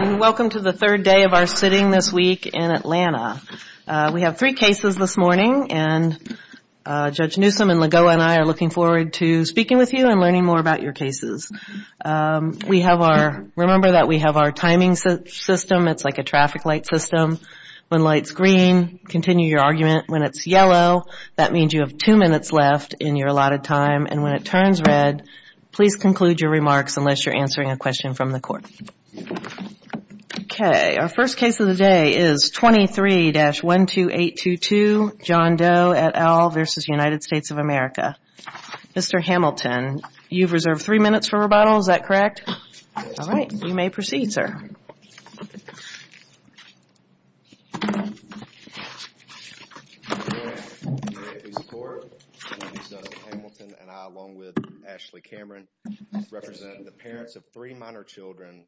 Welcome to the third day of our sitting this week in Atlanta. We have three cases this morning and Judge Newsom and Legault and I are looking forward to speaking with you and learning more about your cases. We have our, remember that we have our timing system, it's like a traffic light system. When light's green, continue your argument. When it's yellow, that means you have two minutes left in your allotted time. And when it turns red, please conclude your remarks unless you're answering a question from the court. Okay, our first case of the day is 23-12822, John Doe, et al. v. United States of America. Mr. Hamilton, you've reserved three minutes for rebuttal, is that correct? All right, you may proceed, sir. Thank you, Your Honor. You may please record. Mr. Hamilton and I, along with Ashley Cameron, represent the parents of three minor children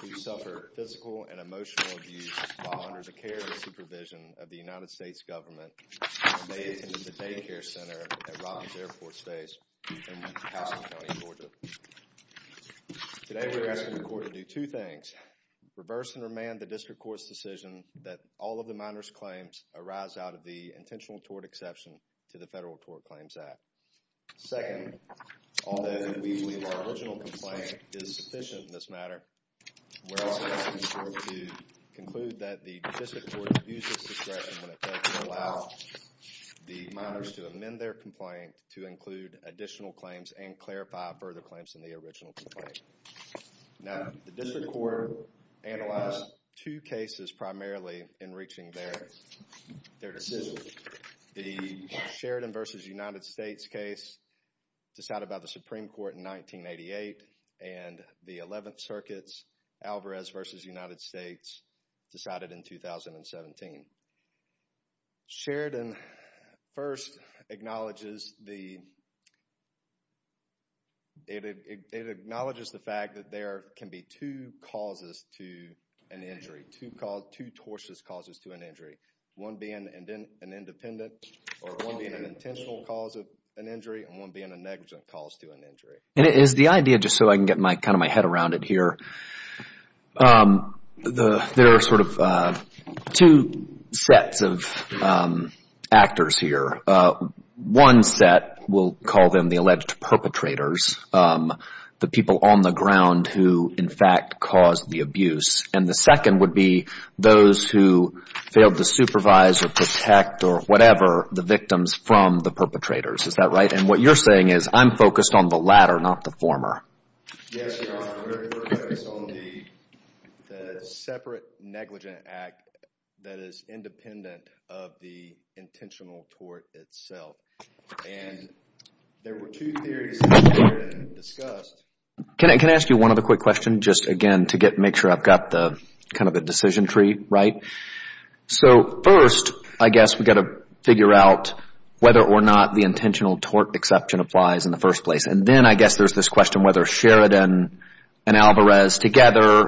who suffer physical and emotional abuse while under the care and supervision of the United States government. They attend the daycare center at Robbins Airport Space in Houston County, Georgia. Today, we're asking the court to do two things. First, reverse and remand the district court's decision that all of the minor's claims arise out of the intentional tort exception to the Federal Tort Claims Act. Second, although we believe our original complaint is sufficient in this matter, we're also asking the court to conclude that the district court abuses discretion when it comes to allow the minors to amend their complaint to include additional claims and clarify further claims in the original complaint. Now, the district court analyzed two cases primarily in reaching their decision. The Sheridan v. United States case decided by the Supreme Court in 1988 and the Eleventh Circuit's Alvarez v. United States decided in 2017. Sheridan first acknowledges the, it acknowledges the fact that there can be two causes to an injury, two tortious causes to an injury. One being an independent or one being an intentional cause of an injury and one being a negligent cause to an injury. And is the idea, just so I can get my, kind of my head around it here, there are sort of two sets of actors here. One set we'll call them the alleged perpetrators, the people on the ground who in fact caused the abuse. And the second would be those who failed to supervise or protect or whatever the victims from the perpetrators. Is that right? And what you're saying is I'm focused on the latter, not the former. Yes, Your Honor. We're focused on the separate negligent act that is independent of the intentional tort itself. And there were two theories here that were discussed. Can I ask you one other quick question just again to get, make sure I've got the, kind of the decision tree right? So first I guess we've got to figure out whether or not the intentional tort exception applies in the first place. And then I guess there's this question whether Sheridan and Alvarez together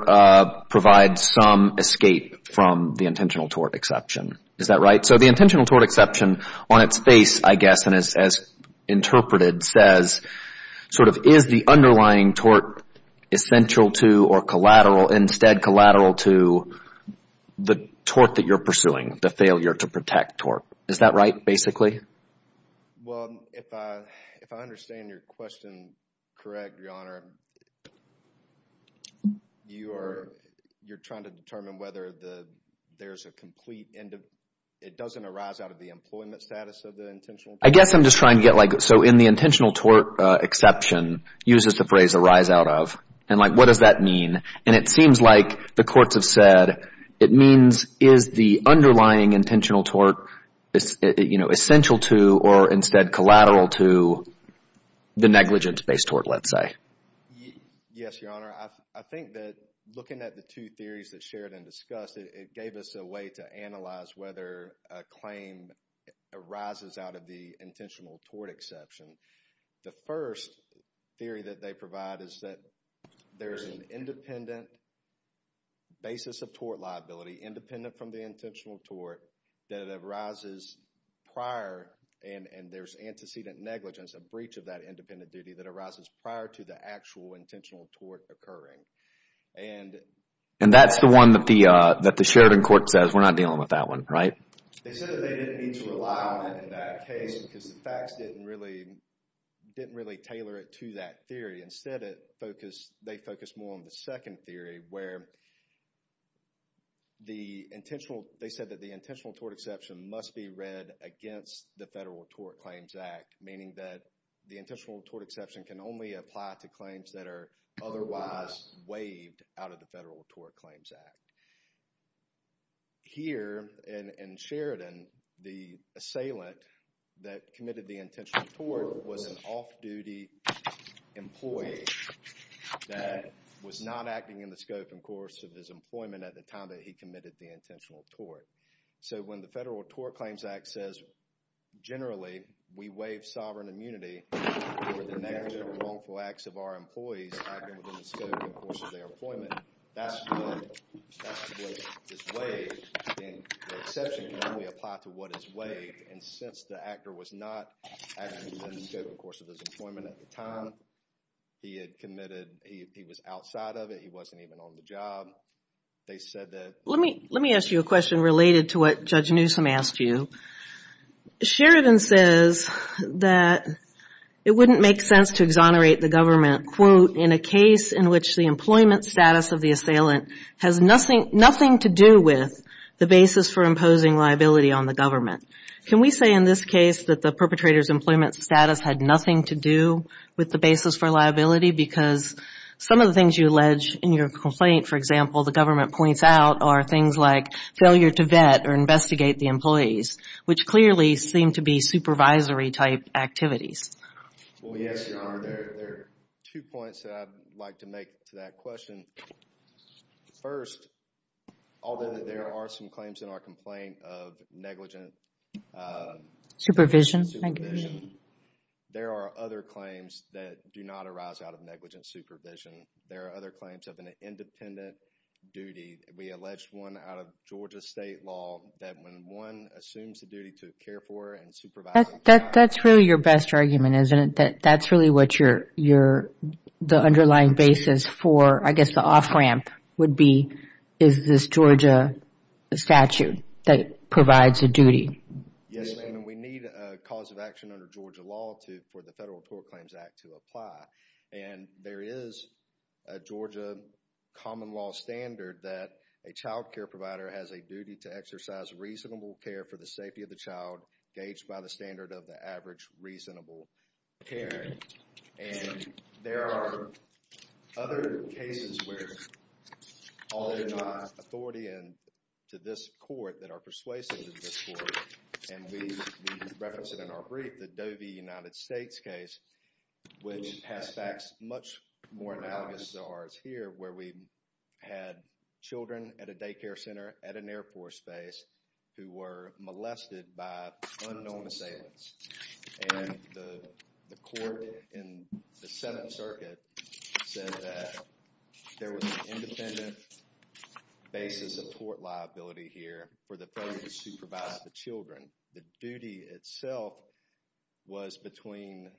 provide some escape from the intentional tort exception. Is that right? So the intentional tort exception on its face, I guess, and as interpreted says, sort of is the underlying tort essential to or collateral, instead collateral to the tort that you're pursuing, the failure to protect tort. Is that right, basically? Well, if I understand your question correct, Your Honor, you're trying to determine whether there's a complete end of, it doesn't arise out of the employment status of the intentional tort. The term intentional tort exception uses the phrase arise out of. And like what does that mean? And it seems like the courts have said it means is the underlying intentional tort, you know, essential to or instead collateral to the negligence-based tort, let's say. Yes, Your Honor. I think that looking at the two theories that Sheridan discussed, it gave us a way to analyze whether a claim arises out of the intentional tort exception. The first theory that they provide is that there's an independent basis of tort liability, independent from the intentional tort, that arises prior and there's antecedent negligence, a breach of that independent duty that arises prior to the actual intentional tort occurring. And that's the one that the Sheridan court says, we're not dealing with that one, right? They said that they didn't need to rely on it in that case because the facts didn't really, didn't really tailor it to that theory. Instead, it focused, they focused more on the second theory where the intentional, they said that the intentional tort exception must be read against the Federal Tort Claims Act, meaning that the intentional tort exception can only apply to claims that are otherwise waived out of the Federal Tort Claims Act. Here in Sheridan, the assailant that committed the intentional tort was an off-duty employee that was not acting in the scope and course of his employment at the time that he committed the intentional tort. So when the Federal Tort Claims Act says, generally, we waive sovereign immunity for the negative or wrongful acts of our employees acting within the scope and course of their employment, that's what is waived. The exception can only apply to what is waived. And since the actor was not acting within the scope and course of his employment at the time, he had committed, he was outside of it, he wasn't even on the job, they said that... Let me ask you a question related to what Judge Newsom asked you. Sheridan says that it wouldn't make sense to exonerate the government, quote, in a case in which the employment status of the assailant has nothing to do with the basis for imposing liability on the government. Can we say in this case that the perpetrator's employment status had nothing to do with the basis for liability because some of the things you allege in your complaint, for example, the government points out are things like failure to vet or investigate the employees, which clearly seem to be supervisory-type activities. Well, yes, Your Honor. There are two points that I'd like to make to that question. First, although there are some claims in our complaint of negligent... Supervision. Supervision, there are other claims that do not arise out of negligent supervision. There are other claims of an independent duty. We alleged one out of Georgia state law that when one assumes the duty to care for and supervise a child... That's really your best argument, isn't it? That that's really what the underlying basis for, I guess, the off-ramp would be, is this Georgia statute that provides a duty. Yes, ma'am. And we need a cause of action under Georgia law for the Federal Tort Claims Act to apply. And there is a Georgia common law standard that a child care provider has a duty to exercise reasonable care for the safety of the child, gauged by the standard of the average reasonable care. And there are other cases where... All in my authority and to this court that are persuasive to this court, and we reference it in our brief, the Doe v. United States case, which has facts much more analogous to ours here, where we had children at a daycare center at an Air Force base who were molested by unknown assailants. And the court in the Seventh Circuit said that there was an independent basis of tort liability here for the person who supervised the children. The duty itself was between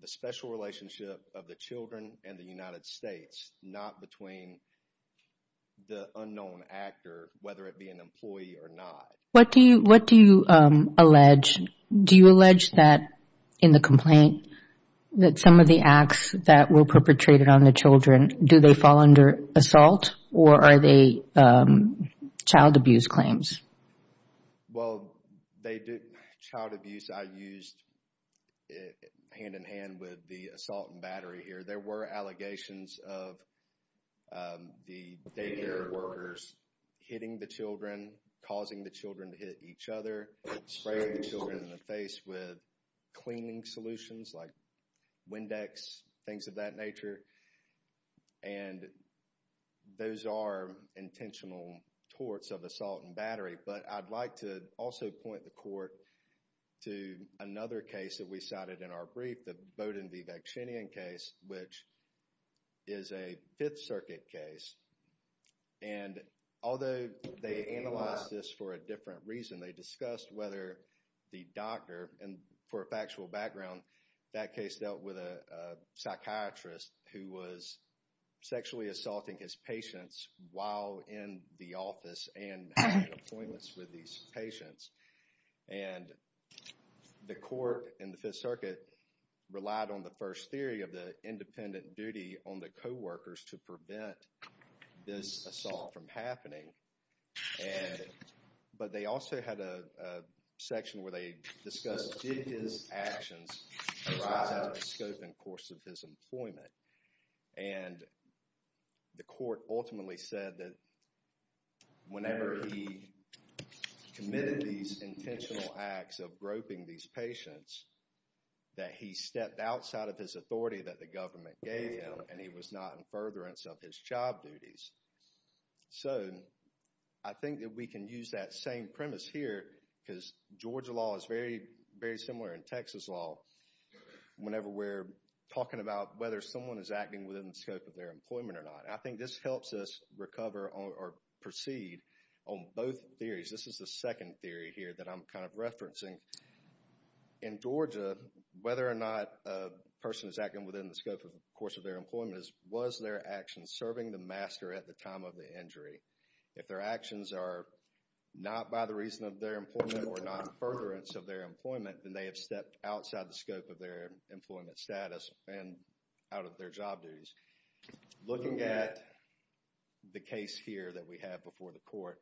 the special relationship of the children and the United States, not between the unknown actor, whether it be an employee or not. What do you allege? Do you allege that in the complaint, that some of the acts that were perpetrated on the children, do they fall under assault or are they child abuse claims? Well, they did child abuse. I used it hand-in-hand with the assault and battery here. There were allegations of the daycare workers hitting the children, causing the children to hit each other, spraying the children in the face with cleaning solutions like Windex, things of that nature. And those are intentional torts of assault and battery. But I'd like to also point the court to another case that we cited in our brief, the Bowdoin v. Vaccinian case, which is a Fifth Circuit case. And although they analyzed this for a different reason, they discussed whether the doctor, and for a factual background, that case dealt with a psychiatrist who was sexually assaulting his patients while in the office and had appointments with these patients. And the court in the Fifth Circuit relied on the first theory of the independent duty on the co-workers to prevent this assault from happening. But they also had a section where they discussed, did his actions arise out of the scope and course of his employment? And the court ultimately said that whenever he committed these intentional acts of groping these patients, that he stepped outside of his authority that the government gave him and he was not in furtherance of his job duties. So I think that we can use that same premise here because Georgia law is very similar in Texas law whenever we're talking about whether someone is acting within the scope of their employment or not. I think this helps us recover or proceed on both theories. This is the second theory here that I'm kind of referencing. In Georgia, whether or not a person is acting within the scope of the course of their employment, was their action serving the master at the time of the injury? If their actions are not by the reason of their employment or not furtherance of their employment, then they have stepped outside the scope of their employment status and out of their job duties. Looking at the case here that we have before the court,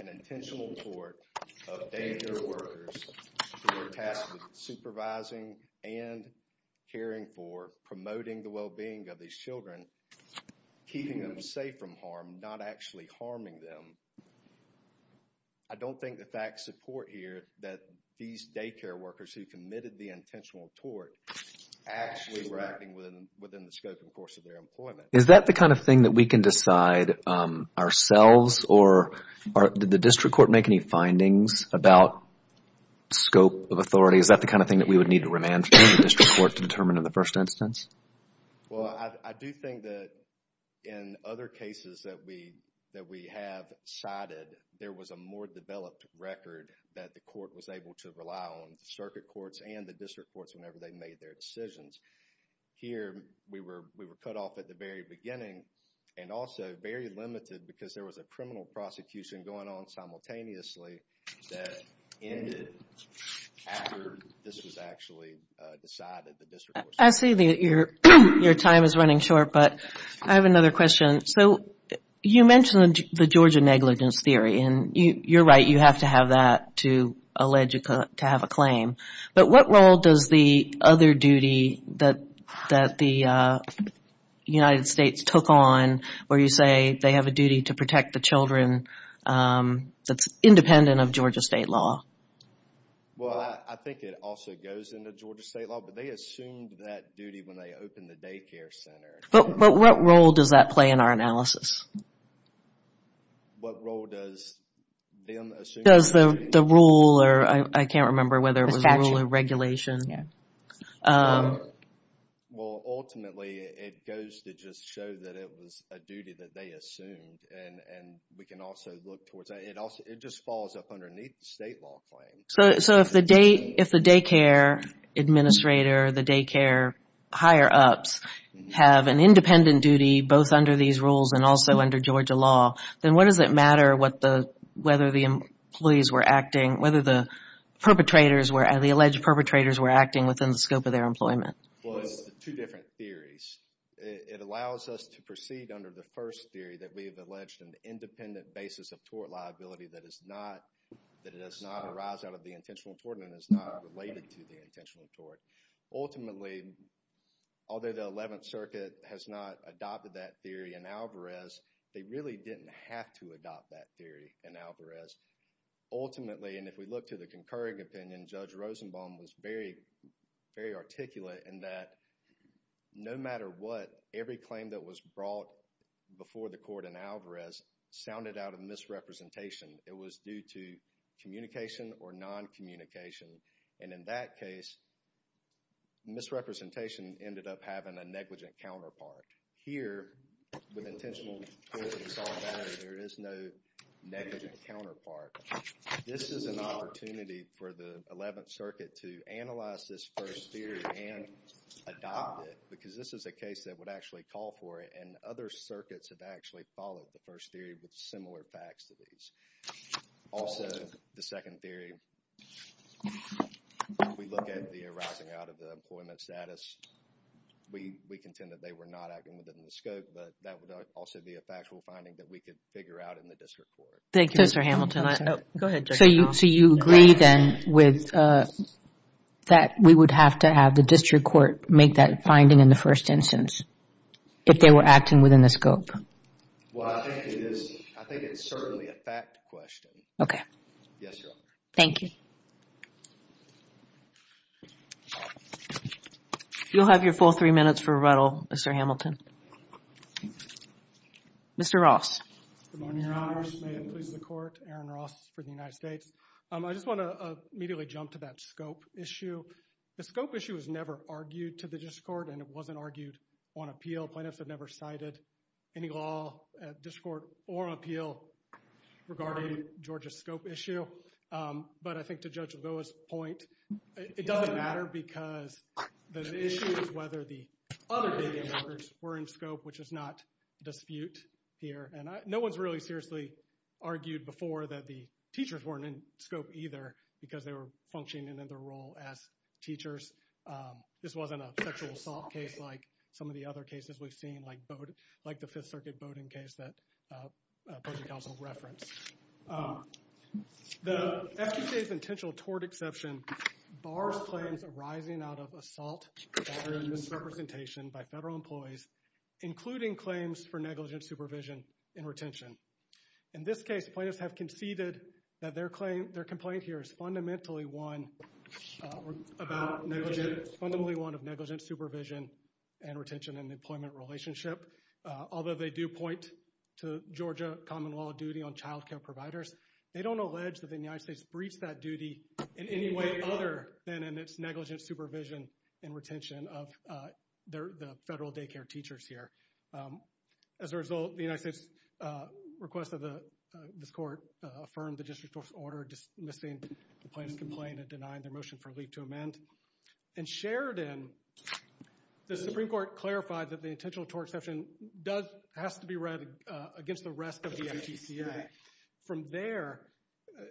an intentional tort of daycare workers who were tasked with supervising and caring for, promoting the well-being of these children, keeping them safe from harm, not actually harming them. I don't think the facts support here that these daycare workers who committed the intentional tort actually were acting within the scope of the course of their employment. Is that the kind of thing that we can decide ourselves? Or did the district court make any findings about scope of authority? Is that the kind of thing that we would need to remand from the district court to determine in the first instance? Well, I do think that in other cases that we have cited, there was a more developed record that the court was able to rely on, both the circuit courts and the district courts, whenever they made their decisions. Here, we were cut off at the very beginning and also very limited because there was a criminal prosecution going on simultaneously that ended after this was actually decided. I see that your time is running short, but I have another question. You mentioned the Georgia negligence theory, and you're right, you have to have that to allege to have a claim. But what role does the other duty that the United States took on where you say they have a duty to protect the children that's independent of Georgia state law? Well, I think it also goes into Georgia state law, but they assumed that duty when they opened the daycare center. But what role does that play in our analysis? What role does them assume? Does the rule, or I can't remember whether it was a rule or regulation. Well, ultimately, it goes to just show that it was a duty that they assumed, and we can also look towards that. It just falls up underneath the state law claim. So, if the daycare administrator, the daycare higher-ups, have an independent duty both under these rules and also under Georgia law, then what does it matter whether the alleged perpetrators were acting within the scope of their employment? Well, it's two different theories. It allows us to proceed under the first theory that we have alleged an independent basis of tort liability that does not arise out of the intentional tort and is not related to the intentional tort. Ultimately, although the 11th Circuit has not adopted that theory in Alvarez, they really didn't have to adopt that theory in Alvarez. Ultimately, and if we look to the concurring opinion, Judge Rosenbaum was very articulate in that no matter what, every claim that was brought before the court in Alvarez sounded out of misrepresentation. It was due to communication or non-communication. And in that case, misrepresentation ended up having a negligent counterpart. Here, with intentional tort and solitary, there is no negligent counterpart. This is an opportunity for the 11th Circuit to analyze this first theory and adopt it because this is a case that would actually call for it and other circuits have actually followed the first theory with similar facts to these. Also, the second theory, if we look at the arising out of the employment status, we contend that they were not acting within the scope, but that would also be a factual finding that we could figure out in the district court. Thank you, Mr. Hamilton. Go ahead, Judge Rosenbaum. So you agree then with that we would have to have the district court make that finding in the first instance if they were acting within the scope? Well, I think it's certainly a fact question. Okay. Yes, Your Honor. Thank you. You'll have your full three minutes for rebuttal, Mr. Hamilton. Mr. Ross. Good morning, Your Honor. May it please the court. Aaron Ross for the United States. I just want to immediately jump to that scope issue. The scope issue was never argued to the district court and it wasn't argued on appeal. Federal plaintiffs have never cited any law at district court or appeal regarding Georgia's scope issue. But I think to Judge Lagoa's point, it doesn't matter because the issue is whether the other data records were in scope, which is not dispute here. And no one's really seriously argued before that the teachers weren't in scope either because they were functioning in their role as teachers. This wasn't a sexual assault case like some of the other cases we've seen, like the Fifth Circuit voting case that the opposing counsel referenced. The FDJ's intentional tort exception bars claims arising out of assault or misrepresentation by federal employees, including claims for negligent supervision and retention. In this case, plaintiffs have conceded that their complaint here is fundamentally one of negligent supervision and retention and employment relationship. Although they do point to Georgia Commonwealth duty on childcare providers, they don't allege that the United States breached that duty in any way other than in its negligent supervision and retention of the federal daycare teachers here. As a result, the United States request of this court affirmed the district court's order in dismissing the plaintiff's complaint and denying their motion for a leap to amend. In Sheridan, the Supreme Court clarified that the intentional tort exception has to be read against the rest of the NTCA. From there,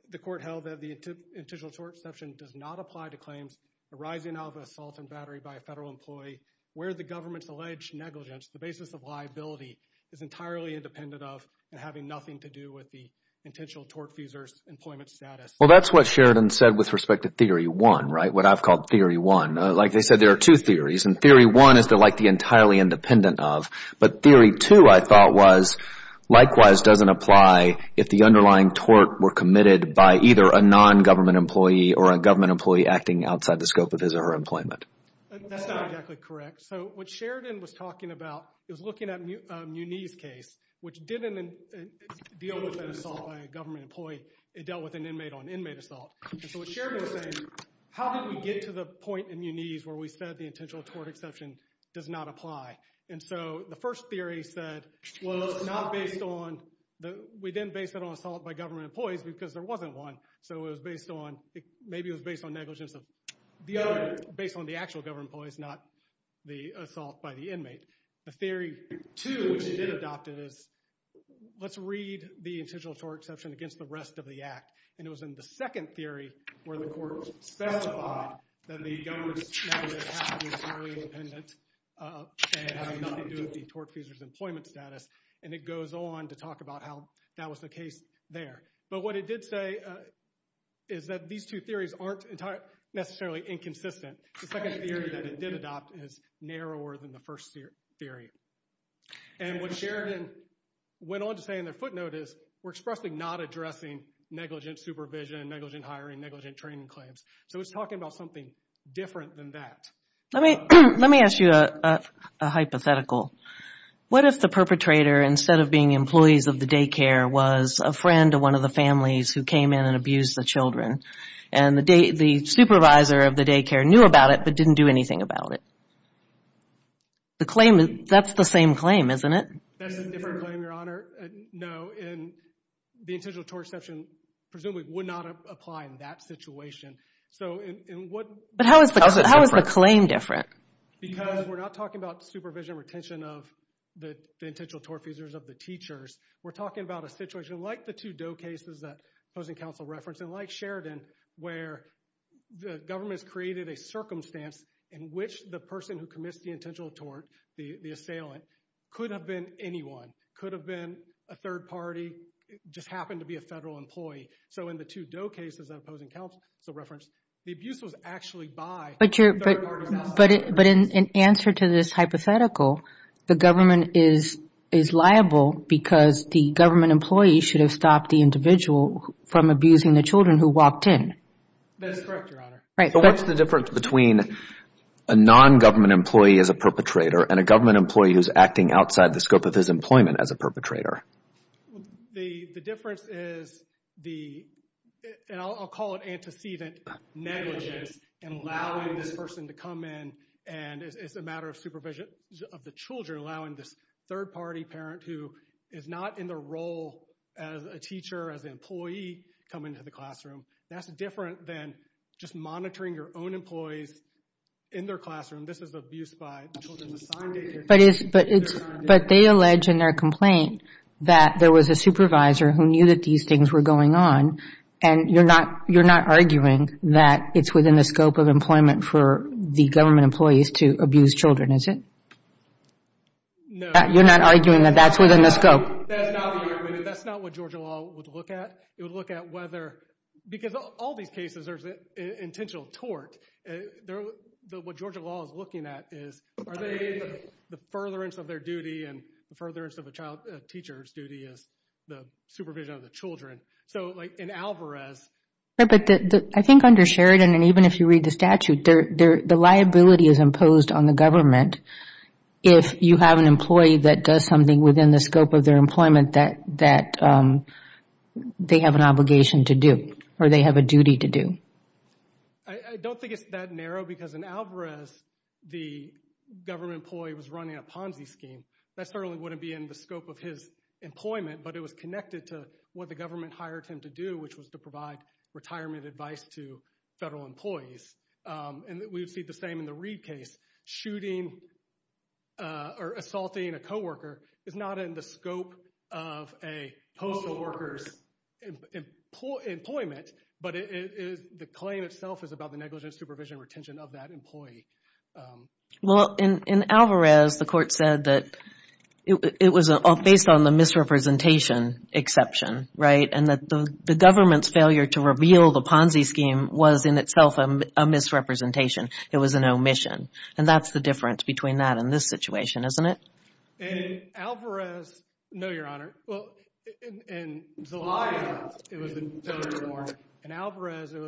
the court held that the intentional tort exception does not apply to claims arising out of assault and battery by a federal employee where the government's alleged negligence, the basis of liability, is entirely independent of and having nothing to do with the intentional tort user's employment status. Well, that's what Sheridan said with respect to Theory 1, right? What I've called Theory 1. Like they said, there are two theories, and Theory 1 is they're like the entirely independent of. But Theory 2, I thought, was likewise doesn't apply if the underlying tort were committed by either a non-government employee or a government employee acting outside the scope of his or her employment. That's not exactly correct. So what Sheridan was talking about is looking at Munee's case, which didn't deal with an assault by a government employee. It dealt with an inmate on inmate assault. And so what Sheridan was saying, how did we get to the point in Munee's where we said the intentional tort exception does not apply? And so the first theory said, well, it's not based on – we didn't base it on assault by government employees because there wasn't one. So it was based on – maybe it was based on negligence of the other – based on the actual government employees, not the assault by the inmate. The Theory 2, which it did adopt, is let's read the intentional tort exception against the rest of the act. And it was in the second theory where the court specified that the government's negligence has to be entirely independent and has nothing to do with the tort accuser's employment status. And it goes on to talk about how that was the case there. But what it did say is that these two theories aren't necessarily inconsistent. The second theory that it did adopt is narrower than the first theory. And what Sheridan went on to say in their footnote is we're expressly not addressing negligent supervision, negligent hiring, negligent training claims. So it's talking about something different than that. Let me ask you a hypothetical. What if the perpetrator, instead of being the employees of the daycare, was a friend of one of the families who came in and abused the children? And the supervisor of the daycare knew about it but didn't do anything about it? That's the same claim, isn't it? That's a different claim, Your Honor. No, and the intentional tort exception presumably would not apply in that situation. But how is the claim different? Because we're not talking about supervision or retention of the intentional tort accusers of the teachers. We're talking about a situation like the two Doe cases that opposing counsel referenced and like Sheridan where the government has created a circumstance in which the person who committed the intentional tort, the assailant, could have been anyone, could have been a third party, just happened to be a federal employee. So in the two Doe cases that opposing counsel referenced, the abuse was actually by the third party. But in answer to this hypothetical, the government is liable because the government employee should have stopped the individual from abusing the children who walked in. That's correct, Your Honor. So what's the difference between a non-government employee as a perpetrator and a government employee who's acting outside the scope of his employment as a perpetrator? The difference is the, and I'll call it antecedent negligence, in allowing this person to come in and it's a matter of supervision of the children, you're allowing this third party parent who is not in the role as a teacher, as an employee, to come into the classroom. That's different than just monitoring your own employees in their classroom. This is abuse by the children assigned to you. But they allege in their complaint that there was a supervisor who knew that these things were going on and you're not arguing that it's within the scope of employment for the government employees to abuse children, is it? No. You're not arguing that that's within the scope? That's not the argument. That's not what Georgia law would look at. It would look at whether, because all these cases are intentional tort. What Georgia law is looking at is are they in the furtherance of their duty and the furtherance of a teacher's duty as the supervision of the children. So like in Alvarez. I think under Sheridan, and even if you read the statute, the liability is imposed on the government if you have an employee that does something within the scope of their employment that they have an obligation to do or they have a duty to do. I don't think it's that narrow because in Alvarez, the government employee was running a Ponzi scheme. That certainly wouldn't be in the scope of his employment, but it was connected to what the government hired him to do, which was to provide retirement advice to federal employees. And we would see the same in the Reid case. Shooting or assaulting a coworker is not in the scope of a postal worker's employment, but the claim itself is about the negligence, supervision, and retention of that employee. Well, in Alvarez, the court said that it was based on the misrepresentation exception, right? And that the government's failure to reveal the Ponzi scheme was in itself a misrepresentation. It was an omission. And that's the difference between that and this situation, isn't it? In Alvarez, no, Your Honor. Well, in Zelaya, it was a failure to warn. In Alvarez, it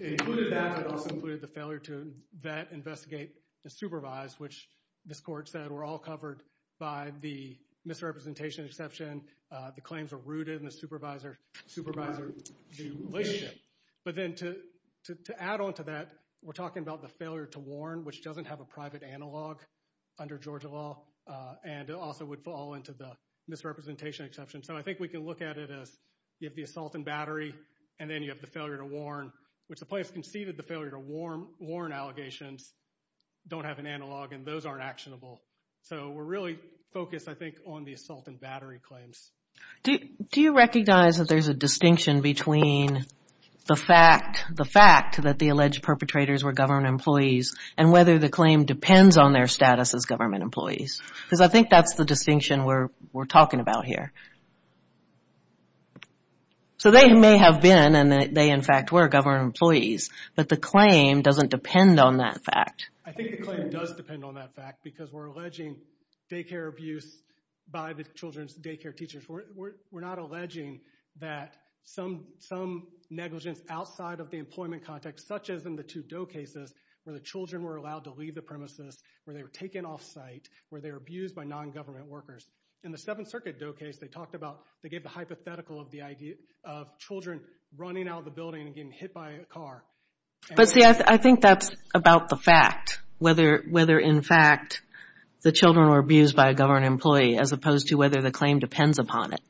included that, but it also included the failure to vet, investigate, and supervise, which this court said were all covered by the misrepresentation exception. The claims were rooted in the supervisor-to-supervisor relationship. But then to add on to that, we're talking about the failure to warn, which doesn't have a private analog under Georgia law, and also would fall into the misrepresentation exception. So I think we can look at it as you have the assault and battery, and then you have the failure to warn, which the plaintiff conceded the failure to warn allegations don't have an analog, and those aren't actionable. So we're really focused, I think, on the assault and battery claims. Do you recognize that there's a distinction between the fact that the alleged perpetrators were government employees and whether the claim depends on their status as government employees? Because I think that's the distinction we're talking about here. So they may have been, and they in fact were, government employees, but the claim doesn't depend on that fact. I think the claim does depend on that fact, because we're alleging daycare abuse by the children's daycare teachers. We're not alleging that some negligence outside of the employment context, such as in the two Doe cases where the children were allowed to leave the premises, where they were taken off site, where they were abused by non-government workers. In the Seventh Circuit Doe case, they talked about, they gave the hypothetical of children running out of the building and getting hit by a car. But see, I think that's about the fact, whether in fact the children were abused by a government employee, as opposed to whether the claim depends upon it.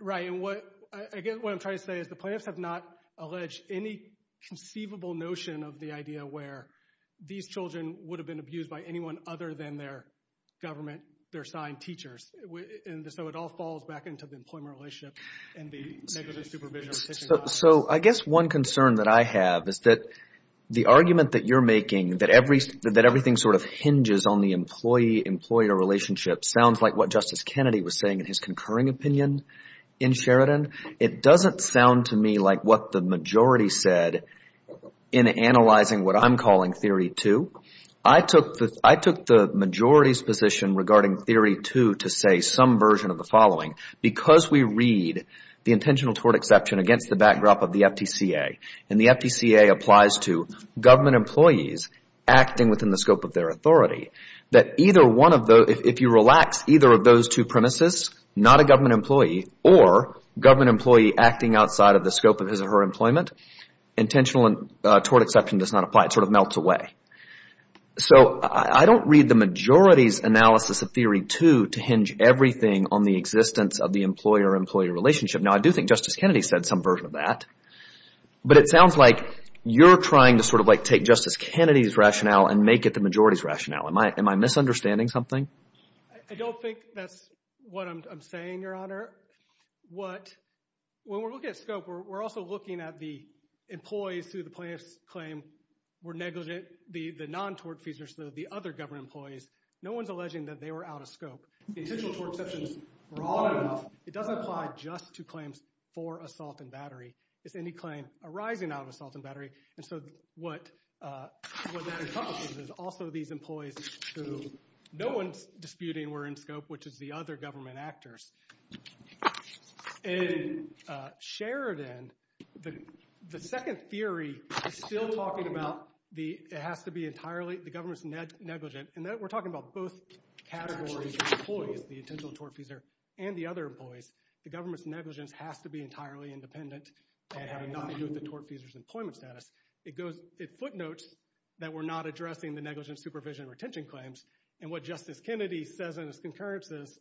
Right, and what I'm trying to say is the plaintiffs have not alleged any conceivable notion of the idea where these children would have been abused by anyone other than their government, their assigned teachers. So it all falls back into the employment relationship and the negligence supervision. So I guess one concern that I have is that the argument that you're making, that everything sort of hinges on the employee-employer relationship, sounds like what Justice Kennedy was saying in his concurring opinion in Sheridan. It doesn't sound to me like what the majority said in analyzing what I'm calling Theory 2. I took the majority's position regarding Theory 2 to say some version of the following. Because we read the intentional tort exception against the backdrop of the FTCA, and the FTCA applies to government employees acting within the scope of their authority, that either one of those, if you relax either of those two premises, not a government employee or government employee acting outside of the scope of his or her employment, intentional tort exception does not apply. It sort of melts away. So I don't read the majority's analysis of Theory 2 to hinge everything on the existence of the employer-employee relationship. Now, I do think Justice Kennedy said some version of that. But it sounds like you're trying to sort of like take Justice Kennedy's rationale and make it the majority's rationale. Am I misunderstanding something? I don't think that's what I'm saying, Your Honor. When we're looking at scope, we're also looking at the employees through the plaintiff's claim were negligent. The non-tort fees are still the other government employees. No one's alleging that they were out of scope. The intentional tort exception is broad enough. It doesn't apply just to claims for assault and battery. It's any claim arising out of assault and battery. And so what that encompasses is also these employees who no one's disputing were in scope, which is the other government actors. And Sheridan, the second theory is still talking about it has to be entirely the government's negligent. And we're talking about both categories of employees, the intentional tort feeser and the other employees. The government's negligence has to be entirely independent and have nothing to do with the tort feeser's employment status. It footnotes that we're not addressing the negligent supervision and retention claims. And what Justice Kennedy says in his concurrence is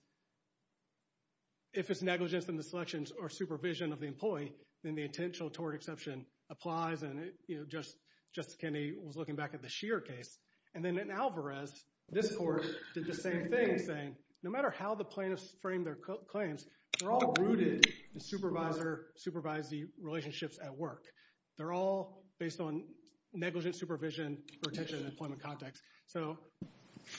if it's negligence in the selections or supervision of the employee, then the intentional tort exception applies. And Justice Kennedy was looking back at the Shearer case. And then in Alvarez, this court did the same thing, saying no matter how the plaintiffs frame their claims, they're all rooted in supervisory relationships at work. They're all based on negligent supervision, retention, and employment context. So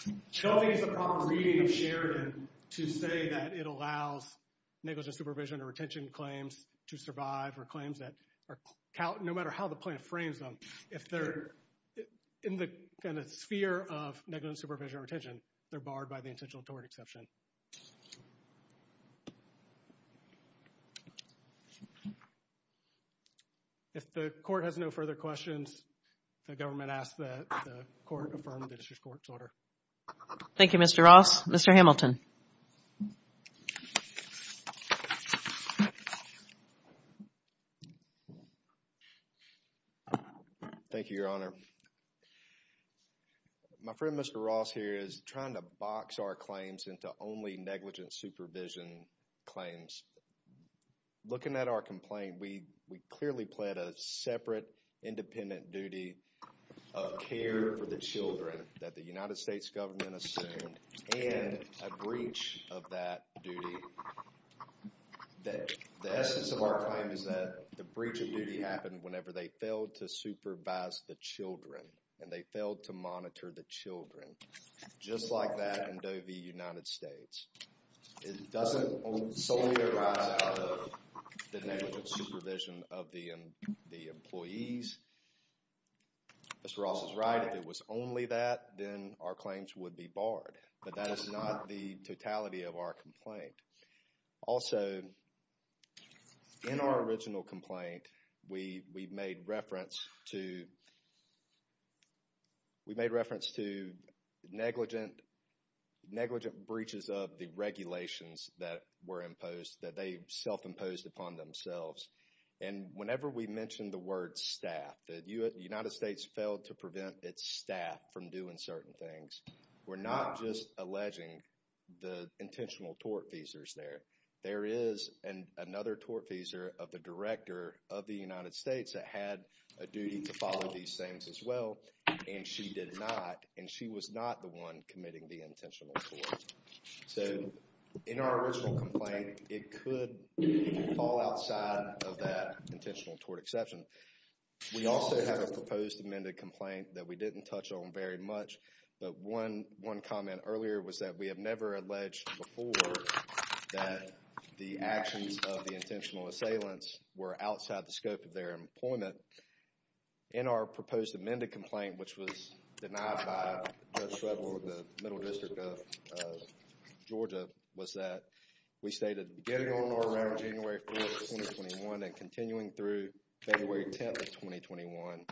I don't think it's a proper reading of Sheridan to say that it allows negligent supervision or retention claims to survive or claims that no matter how the plaintiff frames them, if they're in the kind of sphere of negligent supervision or retention, they're barred by the intentional tort exception. Thank you. If the court has no further questions, the government asks that the court affirm the district court's order. Thank you, Mr. Ross. Mr. Hamilton. Thank you, Your Honor. My friend Mr. Ross here is trying to box our claims into only negligent supervision claims. Looking at our complaint, we clearly pled a separate independent duty of care for the children that the United States government assumed and a breach of that duty. The essence of our claim is that the breach of duty happened whenever they failed to supervise the children and they failed to monitor the children, just like that in Doe v. United States. It doesn't solely arise out of the negligent supervision of the employees. Mr. Ross is right. If it was only that, then our claims would be barred, but that is not the totality of our complaint. Also, in our original complaint, we made reference to negligent breaches of the regulations that were imposed, that they self-imposed upon themselves. Whenever we mention the word staff, that the United States failed to prevent its staff from doing certain things, we're not just alleging the intentional tortfeasors there. There is another tortfeasor of the Director of the United States that had a duty to follow these things as well, and she did not, and she was not the one committing the intentional tort. So, in our original complaint, it could fall outside of that intentional tort exception. We also have a proposed amended complaint that we didn't touch on very much, but one comment earlier was that we have never alleged before that the actions of the intentional assailants were outside the scope of their employment. In our proposed amended complaint, which was denied by Judge Shredler of the Middle District of Georgia, was that we stated getting on our end of January 4th, 2021, and continuing through February 10th of 2021,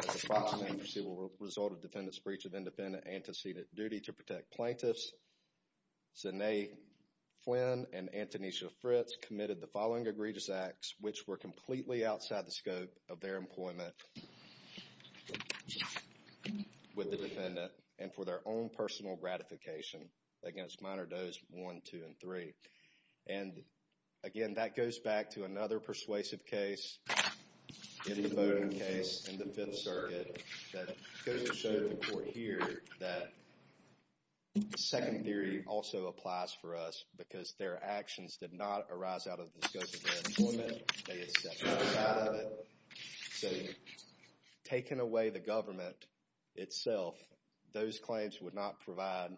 that the following agency will result in defendant's breach of independent antecedent duty to protect plaintiffs. Zanae Flynn and Antonisha Fritz committed the following egregious acts, which were completely outside the scope of their employment with the defendant, and for their own personal gratification against Minor Does 1, 2, and 3. And, again, that goes back to another persuasive case in the voting case in the Fifth Circuit that showed the court here that second theory also applies for us because their actions did not arise out of the scope of their employment. They accepted it. So, taking away the government itself, those claims would not provide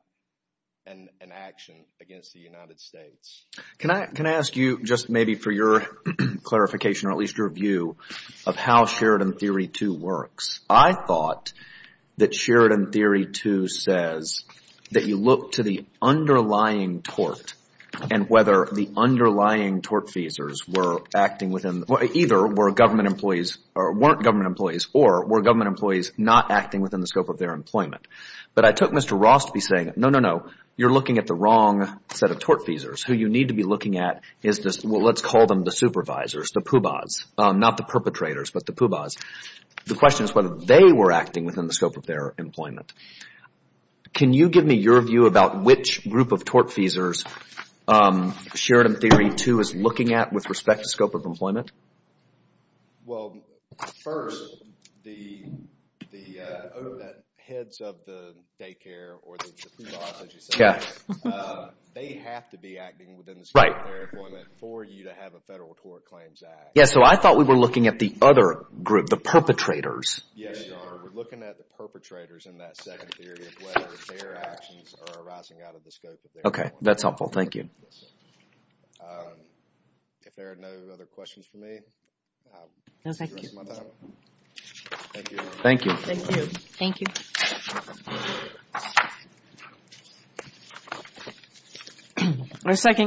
an action against the United States. Can I ask you just maybe for your clarification or at least your view of how Sheridan Theory 2 works? I thought that Sheridan Theory 2 says that you look to the underlying tort and whether the underlying tortfeasors were acting within – either were government employees or weren't government employees or were government employees not acting within the scope of their employment. But I took Mr. Ross to be saying, no, no, no, you're looking at the wrong set of tortfeasors. Who you need to be looking at is this – well, let's call them the supervisors, the poobahs, not the perpetrators, but the poobahs. The question is whether they were acting within the scope of their employment. Can you give me your view about which group of tortfeasors Sheridan Theory 2 is looking at with respect to scope of employment? Well, first, the heads of the daycare or the poobahs, as you say, they have to be acting within the scope of their employment for you to have a federal tort claims act. Yes, so I thought we were looking at the other group, the perpetrators. Yes, Your Honor. We're looking at the perpetrators in that second theory of whether their actions are arising out of the scope of their employment. Okay. That's helpful. Thank you. If there are no other questions for me, I will end my time. Thank you, Your Honor. Thank you. Thank you.